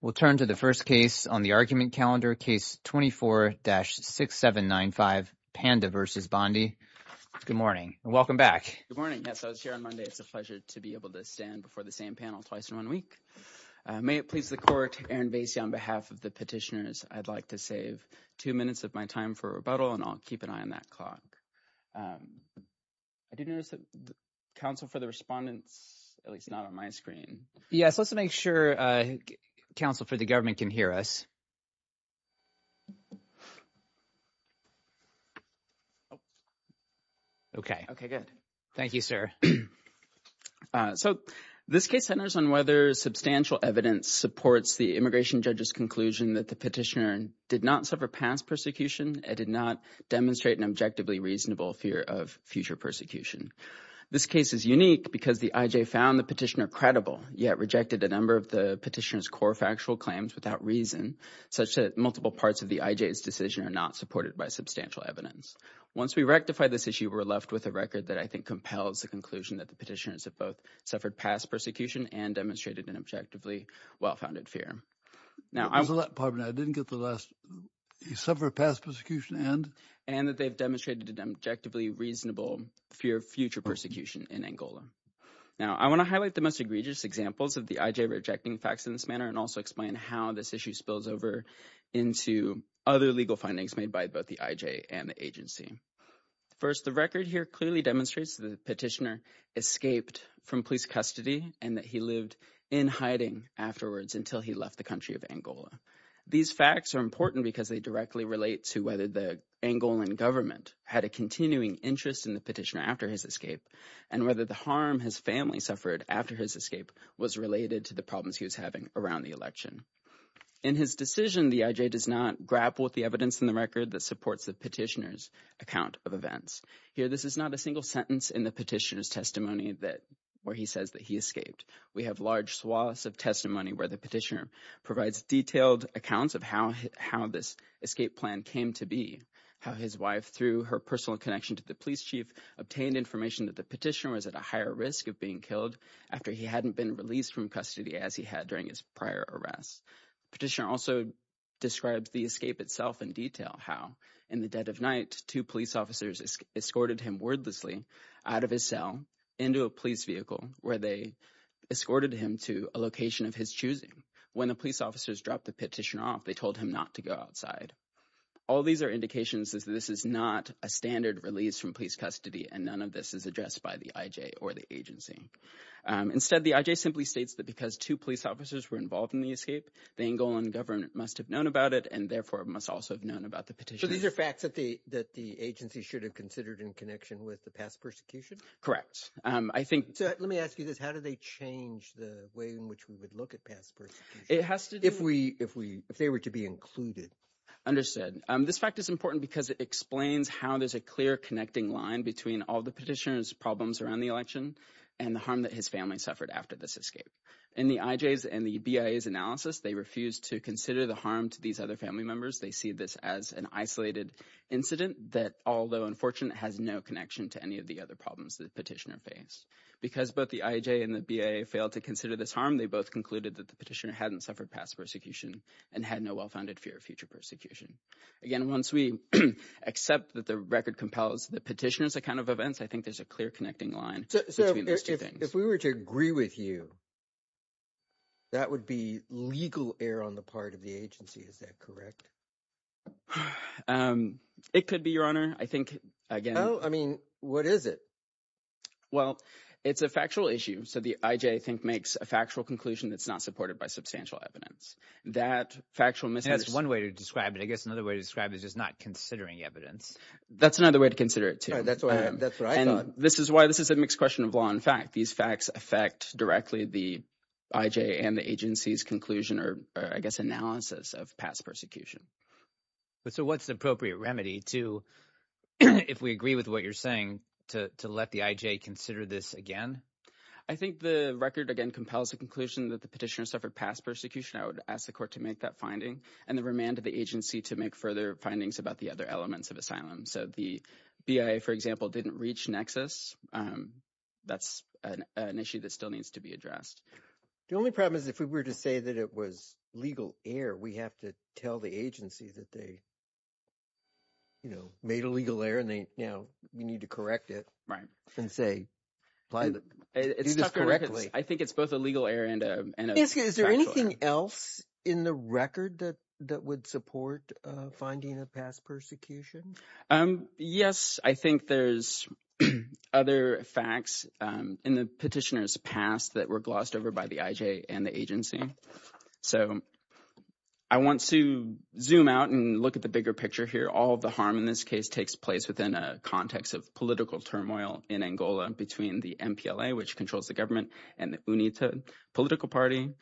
We'll turn to the first case on the argument calendar, case 24-6795, Panda versus Bondi. Good morning and welcome back. Good morning. Yes, I was here on Monday. It's a pleasure to be able to stand before the same panel twice in one week. May it please the court, Aaron Vasey, on behalf of the petitioners, I'd like to save two minutes of my time for rebuttal and I'll keep an eye on that clock. I do notice that counsel for the respondents, at least not on my screen. Yes, let's make sure counsel for the government can hear us. Okay. Okay, good. Thank you, sir. So this case centers on whether substantial evidence supports the immigration judge's conclusion that the petitioner did not suffer past persecution and did not demonstrate an objectively reasonable fear of future persecution. This case is unique because the I.J. found the petitioner credible, yet rejected a number of the petitioner's core factual claims without reason, such that multiple parts of the I.J.'s decision are not supported by substantial evidence. Once we rectify this issue, we're left with a record that I think compels the conclusion that the petitioners have both suffered past persecution and demonstrated an objectively well-founded fear. Now, I'm sorry, I didn't get the last. He suffered past persecution and? And that they've demonstrated an objectively reasonable fear of future persecution in Angola. Now, I want to highlight the most egregious examples of the I.J. rejecting facts in this manner and also explain how this issue spills over into other legal findings made by both the I.J. and the agency. First, the record here clearly demonstrates the petitioner escaped from police custody and that he lived in hiding afterwards until he left the country of Angola. These facts are important because they directly relate to whether the Angolan government had a continuing interest in the petitioner after his escape and whether the harm his family suffered after his escape was related to the problems he was having around the election. In his decision, the I.J. does not grapple with the evidence in the record that supports the petitioner's account of events. Here, this is not a single sentence in the petitioner's testimony that where he says that he escaped. We have large swaths of testimony where the petitioner provides detailed accounts how this escape plan came to be. How his wife, through her personal connection to the police chief, obtained information that the petitioner was at a higher risk of being killed after he hadn't been released from custody as he had during his prior arrests. The petitioner also describes the escape itself in detail. How, in the dead of night, two police officers escorted him wordlessly out of his cell into a police vehicle where they escorted him to a location of his choosing. When police officers dropped the petition off, they told him not to go outside. All these are indications that this is not a standard release from police custody and none of this is addressed by the I.J. or the agency. Instead, the I.J. simply states that because two police officers were involved in the escape, the Angolan government must have known about it and therefore must also have known about the petitioner. So these are facts that the agency should have considered in connection with the past persecution? Correct. Let me ask you this, how do they change the way in which we would look at past persecution if they were to be included? Understood. This fact is important because it explains how there's a clear connecting line between all the petitioner's problems around the election and the harm that his family suffered after this escape. In the I.J.'s and the BIA's analysis, they refused to consider the harm to these other family members. They see this as an isolated incident that, although unfortunate, has no connection to any of the other problems the petitioner faced. Because both the I.J. and the BIA failed to consider this harm, they both concluded that the petitioner hadn't suffered past persecution and had no well-founded fear of future persecution. Again, once we accept that the record compels the petitioner's account of events, I think there's a clear connecting line between those two things. So if we were to agree with you, that would be legal error on the part of the agency, is that correct? It could be, your honor. I think, again... Oh, I mean, what is it? Well, it's a factual issue. So the I.J., I think, makes a factual conclusion that's not supported by substantial evidence. That factual... And that's one way to describe it. I guess another way to describe it is just not considering evidence. That's another way to consider it, too. That's what I thought. And this is why this is a mixed question of law and fact. These facts affect directly the I.J. and the agency's conclusion or, I guess, analysis of past persecution. So what's the appropriate remedy to, if we agree with what you're saying, to let the I.J. consider this again? I think the record, again, compels the conclusion that the petitioner suffered past persecution. I would ask the court to make that finding and the remand of the agency to make further findings about the other elements of asylum. So the BIA, for example, didn't reach nexus. That's an issue that still needs to be addressed. The only problem is if we were to say that it was legal error, we have to tell the agency that they made a legal error and we need to correct it and say, do this correctly. I think it's both a legal error and a factual error. Is there anything else in the record that would support finding of past persecution? Um, yes, I think there's other facts in the petitioner's past that were glossed over by the I.J. and the agency. So I want to zoom out and look at the bigger picture here. All the harm in this case takes place within a context of political turmoil in Angola between the MPLA, which controls the government, and the UNITA political party.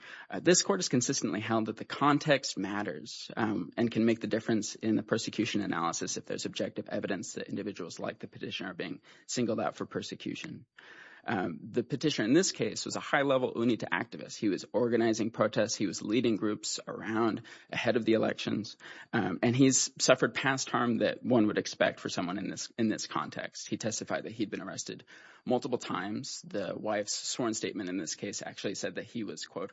This court is consistently held that the context matters and can make the difference in the persecution analysis if there's objective evidence that individuals like the petitioner are being singled out for persecution. The petitioner in this case was a high level UNITA activist. He was organizing protests, he was leading groups around ahead of the elections, and he's suffered past harm that one would expect for someone in this in this context. He testified that he'd been arrested multiple times. The wife's sworn statement in this case actually said that he was, quote,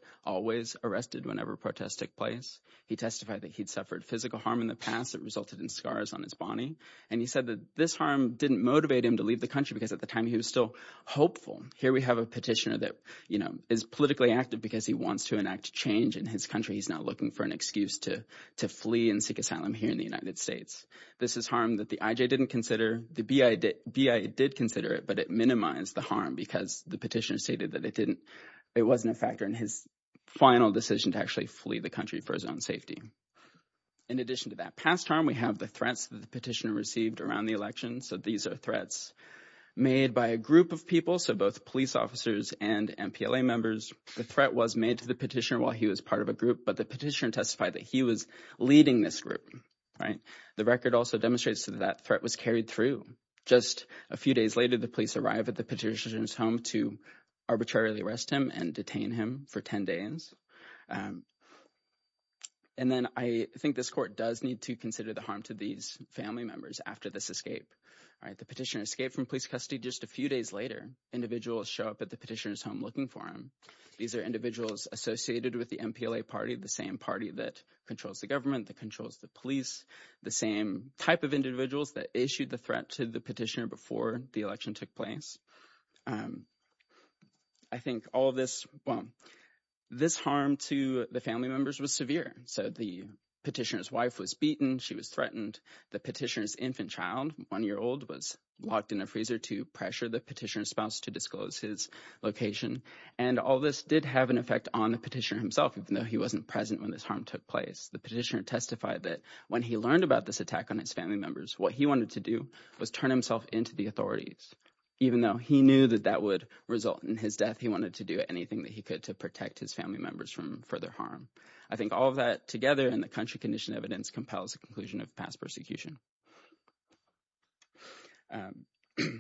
arrested whenever protests took place. He testified that he'd suffered physical harm in the past that resulted in scars on his body. And he said that this harm didn't motivate him to leave the country because at the time he was still hopeful. Here we have a petitioner that, you know, is politically active because he wants to enact change in his country. He's now looking for an excuse to to flee and seek asylum here in the United States. This is harm that the IJ didn't consider. The BIA did consider it, but it minimized the harm because the petitioner stated that it didn't, it wasn't a factor in his final decision to actually flee the country for his own safety. In addition to that past harm, we have the threats that the petitioner received around the election. So these are threats made by a group of people, so both police officers and MPLA members. The threat was made to the petitioner while he was part of a group, but the petitioner testified that he was leading this group, right? The record also demonstrates that that threat was carried through. Just a few days later, the police arrived at the petitioner's home to arbitrarily arrest him and detain him for 10 days. And then I think this court does need to consider the harm to these family members after this escape, right? The petitioner escaped from police custody just a few days later. Individuals show up at the petitioner's home looking for him. These are individuals associated with the MPLA party, the same party that controls the government, that before the election took place. I think all of this, well, this harm to the family members was severe. So the petitioner's wife was beaten. She was threatened. The petitioner's infant child, one year old, was locked in a freezer to pressure the petitioner's spouse to disclose his location. And all this did have an effect on the petitioner himself, even though he wasn't present when this harm took place. The petitioner testified that when he learned about this attack on his family members, what he wanted to do was turn himself into the authorities. Even though he knew that that would result in his death, he wanted to do anything that he could to protect his family members from further harm. I think all of that together and the country condition evidence compels the conclusion of past persecution. I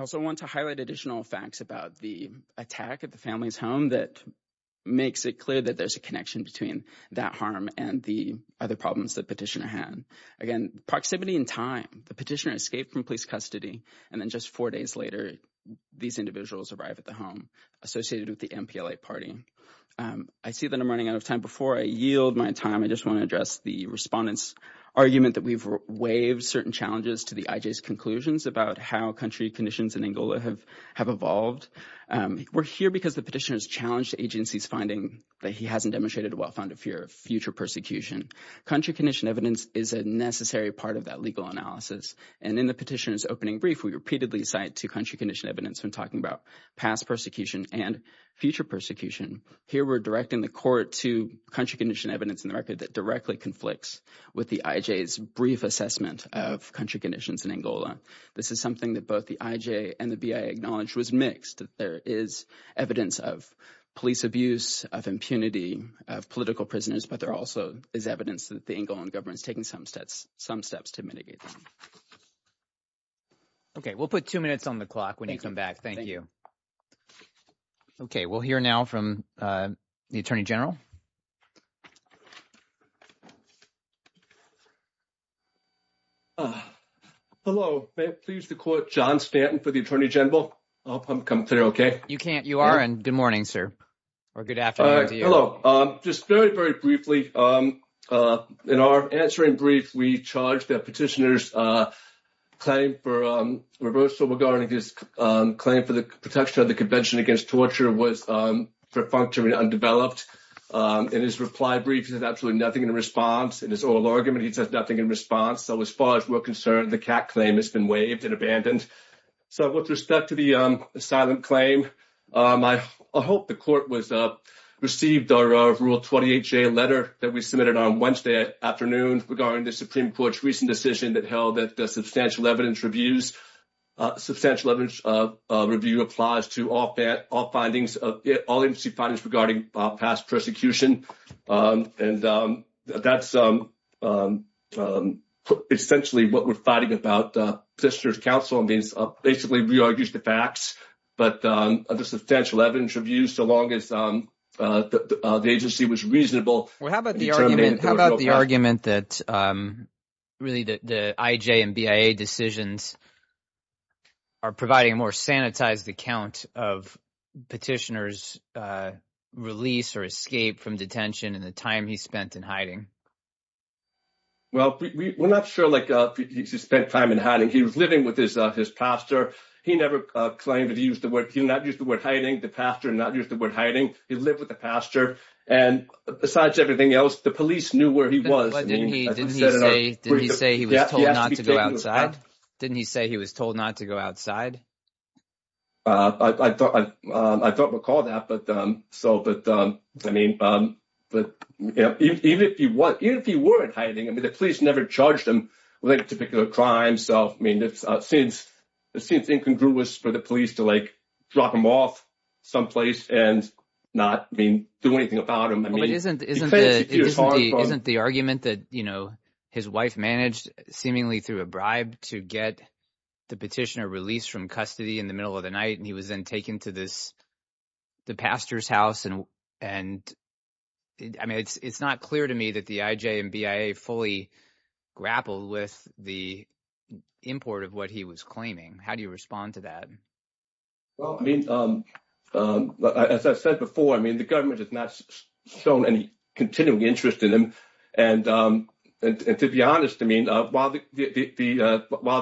also want to highlight additional facts about the attack at the family's home that makes it clear that there's a connection between that harm and the other problems that petitioner had. Again, proximity and time. The petitioner escaped from police custody, and then just four days later, these individuals arrived at the home associated with the MPLA party. I see that I'm running out of time. Before I yield my time, I just want to address the respondents' argument that we've waived certain challenges to the IJ's conclusions about how country conditions in Angola have evolved. We're here because the petitioner's agency's finding that he hasn't demonstrated a well-founded fear of future persecution. Country condition evidence is a necessary part of that legal analysis, and in the petitioner's opening brief, we repeatedly cite to country condition evidence when talking about past persecution and future persecution. Here, we're directing the court to country condition evidence in the record that directly conflicts with the IJ's brief assessment of country conditions in Angola. This is something that both the IJ and the BI acknowledged was mixed. There is evidence of police abuse, of impunity, of political prisoners, but there also is evidence that the Angolan government is taking some steps to mitigate them. Okay, we'll put two minutes on the clock when you come back. Thank you. Okay, we'll hear now from the Attorney General. Hello. May it please the court, John Stanton for the Attorney General. I hope I'm clear, okay? You are, and good morning, sir, or good afternoon to you. Hello. Just very, very briefly, in our answering brief, we charged that petitioner's claim for reversal regarding his claim for the protection of the Convention Against Torture was functionally undeveloped. In his reply brief, he said absolutely nothing in response. In his oral argument, he says nothing in response. So as far as we're concerned, the CAC claim has been undisputed. I hope the court received our Rule 28J letter that we submitted on Wednesday afternoon regarding the Supreme Court's recent decision that held that substantial evidence review applies to all infancy findings regarding past persecution. That's essentially what we're fighting about. Petitioner's counsel basically re-argues the facts, but the substantial evidence reviews, so long as the agency was reasonable. Well, how about the argument that really the IJ and BIA decisions are providing a more sanitized account of petitioner's release or escape from detention and the time he spent in hiding? Well, we're not sure if he spent time in hiding. He was living with his pastor. He never claimed that he used the word, he did not use the word hiding. The pastor did not use the word hiding. He lived with the pastor. And besides everything else, the police knew where he was. Didn't he say he was told not to go outside? I don't recall that. But even if he weren't hiding, I mean, the police never charged him with any particular crime. So, I mean, it seems incongruous for the police to, like, drop him off someplace and not do anything about him. Isn't the argument that, you know, his wife managed seemingly through a bribe to get the petitioner released from custody in the middle of the night, and he was then taken to the pastor's house? And I mean, it's not clear to me that the IJ and BIA fully grappled with the import of what he was claiming. How do you respond to that? Well, I mean, as I said before, I mean, the government has not shown any continued interest in him. And to be honest, I mean, while the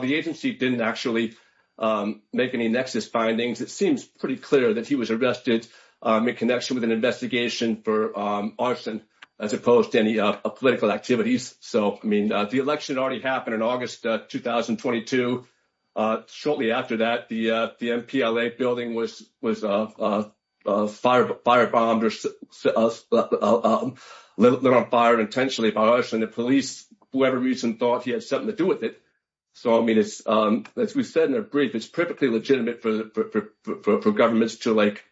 agency didn't actually make any nexus findings, it seems pretty clear that he was arrested in connection with an investigation for arson, as opposed to any political activities. So, I mean, the election already happened in August 2022. Shortly after that, the MPLA building was firebombed or lit on fire intentionally by arson. The police, for whatever reason, thought he had something to do with it. So, I mean, as we said in a brief, it's perfectly legitimate for governments to, like,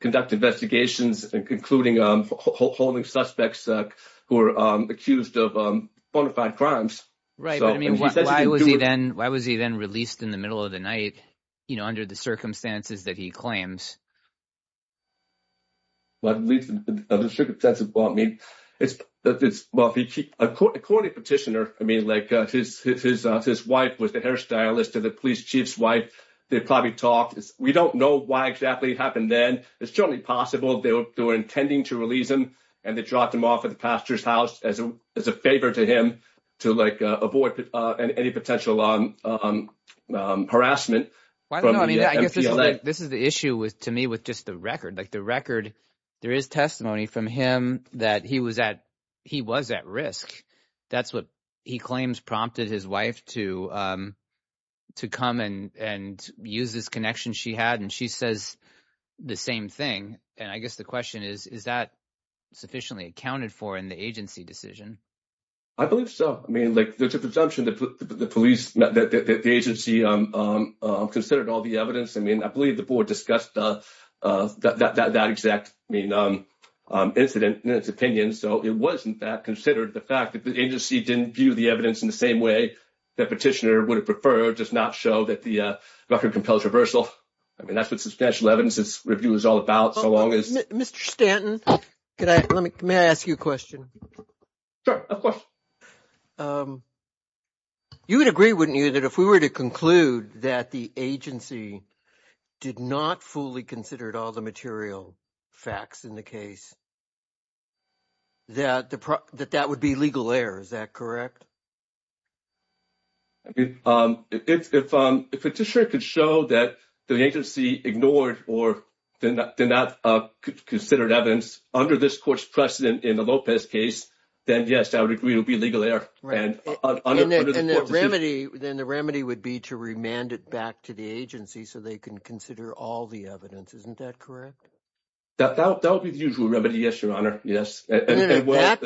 conduct investigations, including holding suspects who are accused of bona fide crimes. Right, but I mean, why was he then released in the middle of the night, you know, under the circumstances that he claims? Well, at least in a strict sense of the law, I mean, it's, well, according to the petitioner, I mean, like, his wife was the hairstylist of the police chief's wife. They probably talked. We don't know why exactly it happened then. It's certainly possible they were intending to release him and they dropped him off at the pastor's house as a favor to him to, like, avoid any potential harassment from the MPLA. No, I mean, I guess this is the issue with just the record. Like, the record, there is testimony from him that he was at risk. That's what he claims prompted his wife to come and use this connection she had. And she says the same thing. And I guess the question is, is that sufficiently accounted for in the agency decision? I believe so. I mean, like, there's a presumption that the police, the agency considered all the evidence. I mean, I believe the board discussed that exact, I mean, incident in its opinion. So, it was, in fact, considered the fact that the agency didn't view the evidence in the same way that petitioner would have preferred, does not show that the record compels reversal. I mean, that's what substantial evidence review is all about, so long as... Mr. Stanton, may I ask you a question? Sure, of course. You would agree, wouldn't you, that if we were to conclude that the agency did not fully considered all the material facts in the case, that that would be legal error, is that correct? I mean, if a petitioner could show that the agency ignored or did not consider evidence under this court's precedent in the Lopez case, then, yes, I would agree it would be legal error. Then the remedy would be to remand it back to the agency so they can consider all the evidence, isn't that correct? That would be the usual remedy, yes, Your Honor, yes. Then at that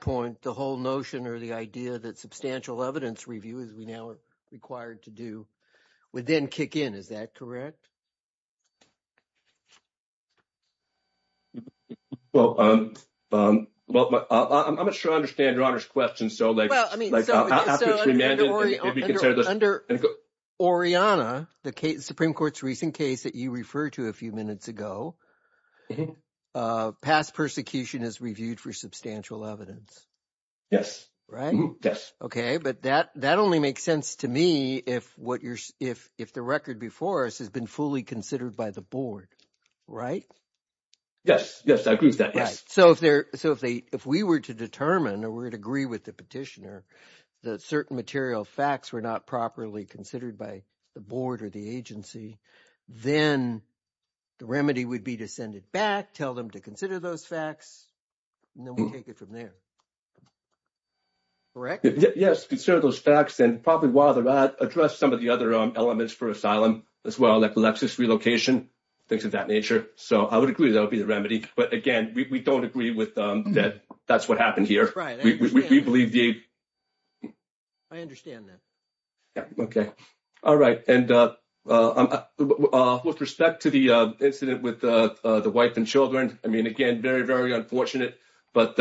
point, the whole notion or the idea that substantial evidence review, as we now are required to do, would then kick in, is that correct? Well, I'm not sure I understand Your Honor's question. Under Oriana, the Supreme Court's recent case that you referred to a few minutes ago, past persecution is reviewed for substantial evidence. Yes. Right? Yes. Okay, but that only makes sense to me if the record before us has been fully considered by the board, right? Yes, yes, I agree with that, yes. So, if we were to determine or we were to agree with the petitioner that certain material facts were not properly considered by the board or the agency, then the remedy would be to send it back, tell them to consider those facts, and then we'll take it from there, correct? Yes, consider those facts and probably while they're out, address some of the other elements for asylum as well, like Lexis relocation, things of that nature. So, I would agree that would be the remedy. But again, we don't agree that that's what happened here. Right, I understand. We believe the... I understand that. Yeah, okay. All right, and with respect to the incident with the wife and children, I mean, again, very, very unfortunate, but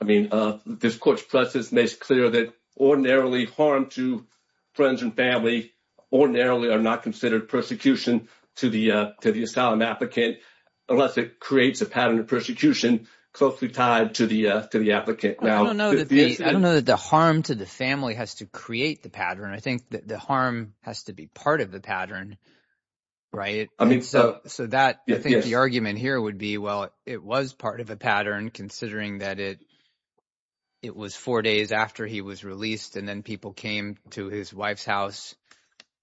I mean, this court's process makes clear that ordinarily harm to friends and family ordinarily are not considered persecution to the asylum applicant unless it creates a pattern of persecution closely tied to the applicant. Well, I don't know that the harm to the family has to create the pattern. I think that the harm has to be part of the pattern, right? I mean, so... So, I think the argument here would be, well, it was part of a pattern considering that it it was four days after he was released, and then people came to his wife's house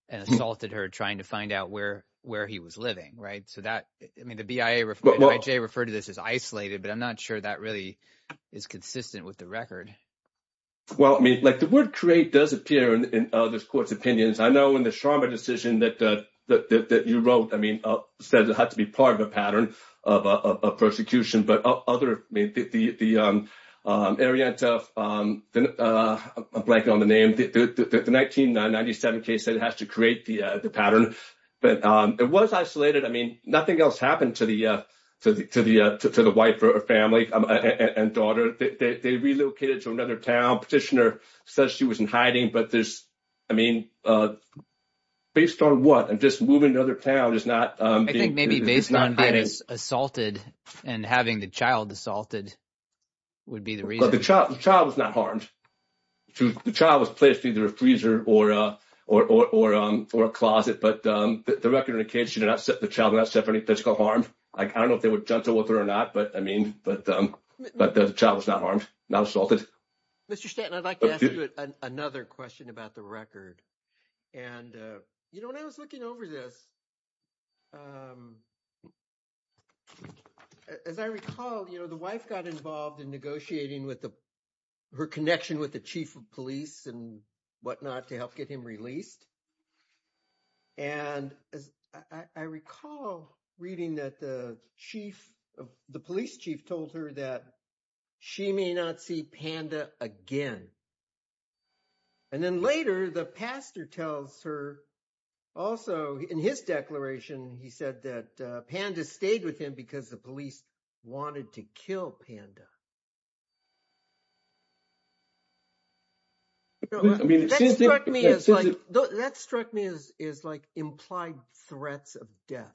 and assaulted her trying to find out where he was living, right? So that, I mean, the BIA referred to this as isolated, but I'm not sure that really is consistent with the record. Well, I mean, like the word create does appear in this court's opinions. I know in the Sharma decision that you wrote, I mean, said it had to be part of a pattern of persecution. But other, I mean, the Arienta, I'm blanking on the name, the 1997 case said it has to create the pattern, but it was isolated. I mean, nothing else happened to the wife or family and daughter. They relocated to another town. Petitioner says she was in hiding, but there's, I mean, based on what? And just moving to another town is not... I think maybe based on being assaulted and having the child assaulted would be the reason. But the child was not harmed. The child was placed either in a freezer or a closet. But the record indicates the child was not set for any physical harm. I don't know if they were gentle with her or not, but I mean, but the child was not harmed, not assaulted. Mr. Stanton, I'd like to ask you another question about the record. And when I was looking over this, as I recall, the wife got involved in negotiating her connection with the chief of police and whatnot to help get him released. And I recall reading that the police chief told her that she may not see Panda again. And then later, the pastor tells her also in his declaration, he said that Panda stayed with him because the police wanted to kill Panda. I mean, that struck me as like, that struck me as like implied threats of death.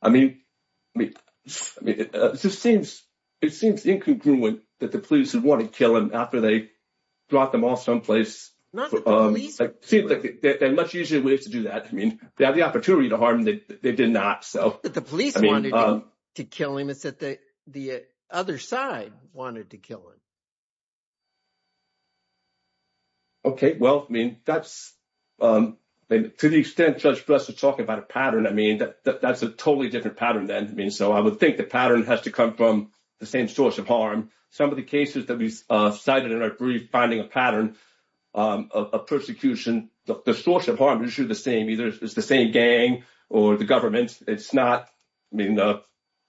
I mean, I mean, I mean, it just seems, it seems incongruent that the police would want to kill him after they dropped him off someplace. It seems like there are much easier ways to do that. I mean, they have the opportunity to harm him, they did not. So I mean- It's not that the police wanted to kill him, it's that the other side wanted to kill him. Okay, well, I mean, that's, to the extent Judge Bress was talking about a pattern, I mean, that's a totally different pattern then. I mean, so I would think the pattern has to come from the same source of harm. Some of the cases that we cited in our brief, finding a pattern of persecution, the source of harm is usually the same, either it's the same gang or the government. It's not, I mean,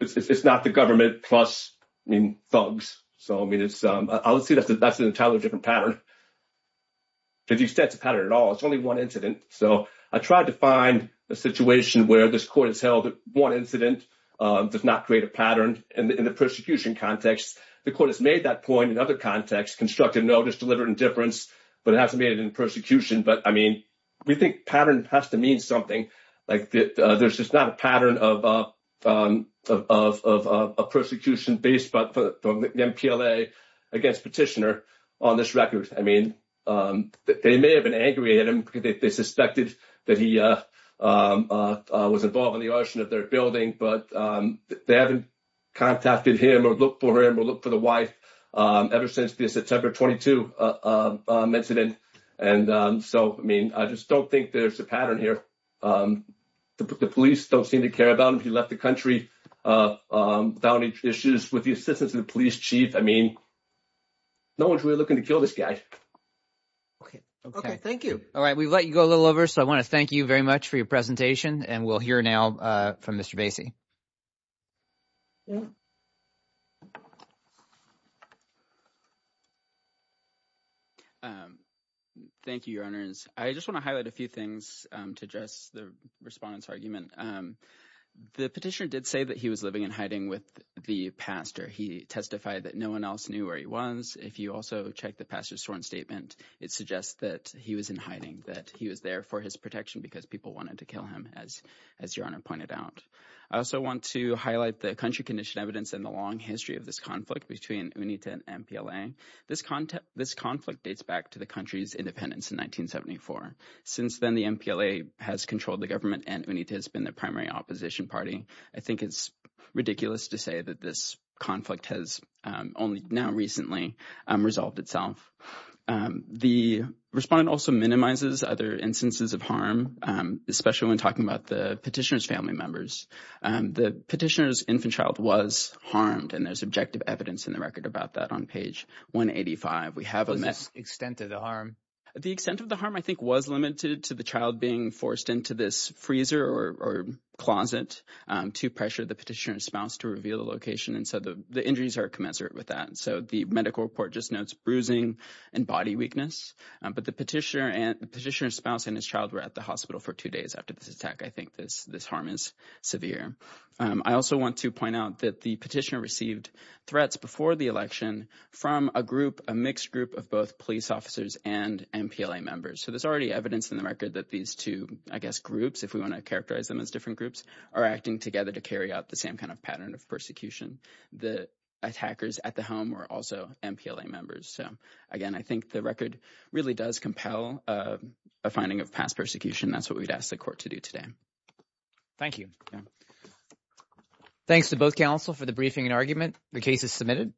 it's not the government plus, I mean, thugs. So I mean, it's, I would say that's an entirely different pattern. To the extent it's a pattern at all, it's only one incident. So I tried to find a situation where this court has held that one incident does not create a pattern in the persecution context. The court has made that point in other contexts, constructed notice, delivered indifference, but it hasn't made it in persecution. But I mean, we think pattern has to mean something. Like there's just not a pattern of a persecution based on the MPLA against Petitioner on this record. I mean, they may have been angry at him because they suspected that he was involved in the contact with him or look for him or look for the wife ever since the September 22 incident. And so, I mean, I just don't think there's a pattern here. The police don't seem to care about him. He left the country without any issues with the assistance of the police chief. I mean, no one's really looking to kill this guy. Okay, thank you. All right. We've let you go a little over. So I want to thank you very much for your presentation. And we'll hear now from Mr. Basie. Yeah. Thank you, your honors. I just want to highlight a few things to address the respondent's argument. The petitioner did say that he was living in hiding with the pastor. He testified that no one else knew where he was. If you also check the pastor's sworn statement, it suggests that he was in hiding, that he was there for his protection because people wanted to kill him as your honor pointed out. I also want to highlight the country condition evidence in the long history of this conflict between UNITA and MPLA. This conflict dates back to the country's independence in 1974. Since then, the MPLA has controlled the government and UNITA has been the primary opposition party. I think it's ridiculous to say that this conflict has only now recently resolved itself. The respondent also minimizes other instances of harm, especially when talking about the petitioner's family members. The petitioner's infant child was harmed. And there's objective evidence in the record about that on page 185. We have a- What's the extent of the harm? The extent of the harm, I think, was limited to the child being forced into this freezer or closet to pressure the petitioner's spouse to reveal the location. And so the injuries are commensurate with that. So the medical report just notes bruising and body weakness. But the petitioner's spouse and his child were at the hospital for two days after this attack. I think this harm is severe. I also want to point out that the petitioner received threats before the election from a group, a mixed group of both police officers and MPLA members. So there's already evidence in the record that these two, I guess, groups, if we want to characterize them as different groups, are acting together to carry out the same kind of pattern of persecution. The attackers at the home were also MPLA members. So, again, I think the record really does compel a finding of past persecution. That's what we'd ask the court to do today. Thank you. Thanks to both counsel for the briefing and argument. The case is submitted.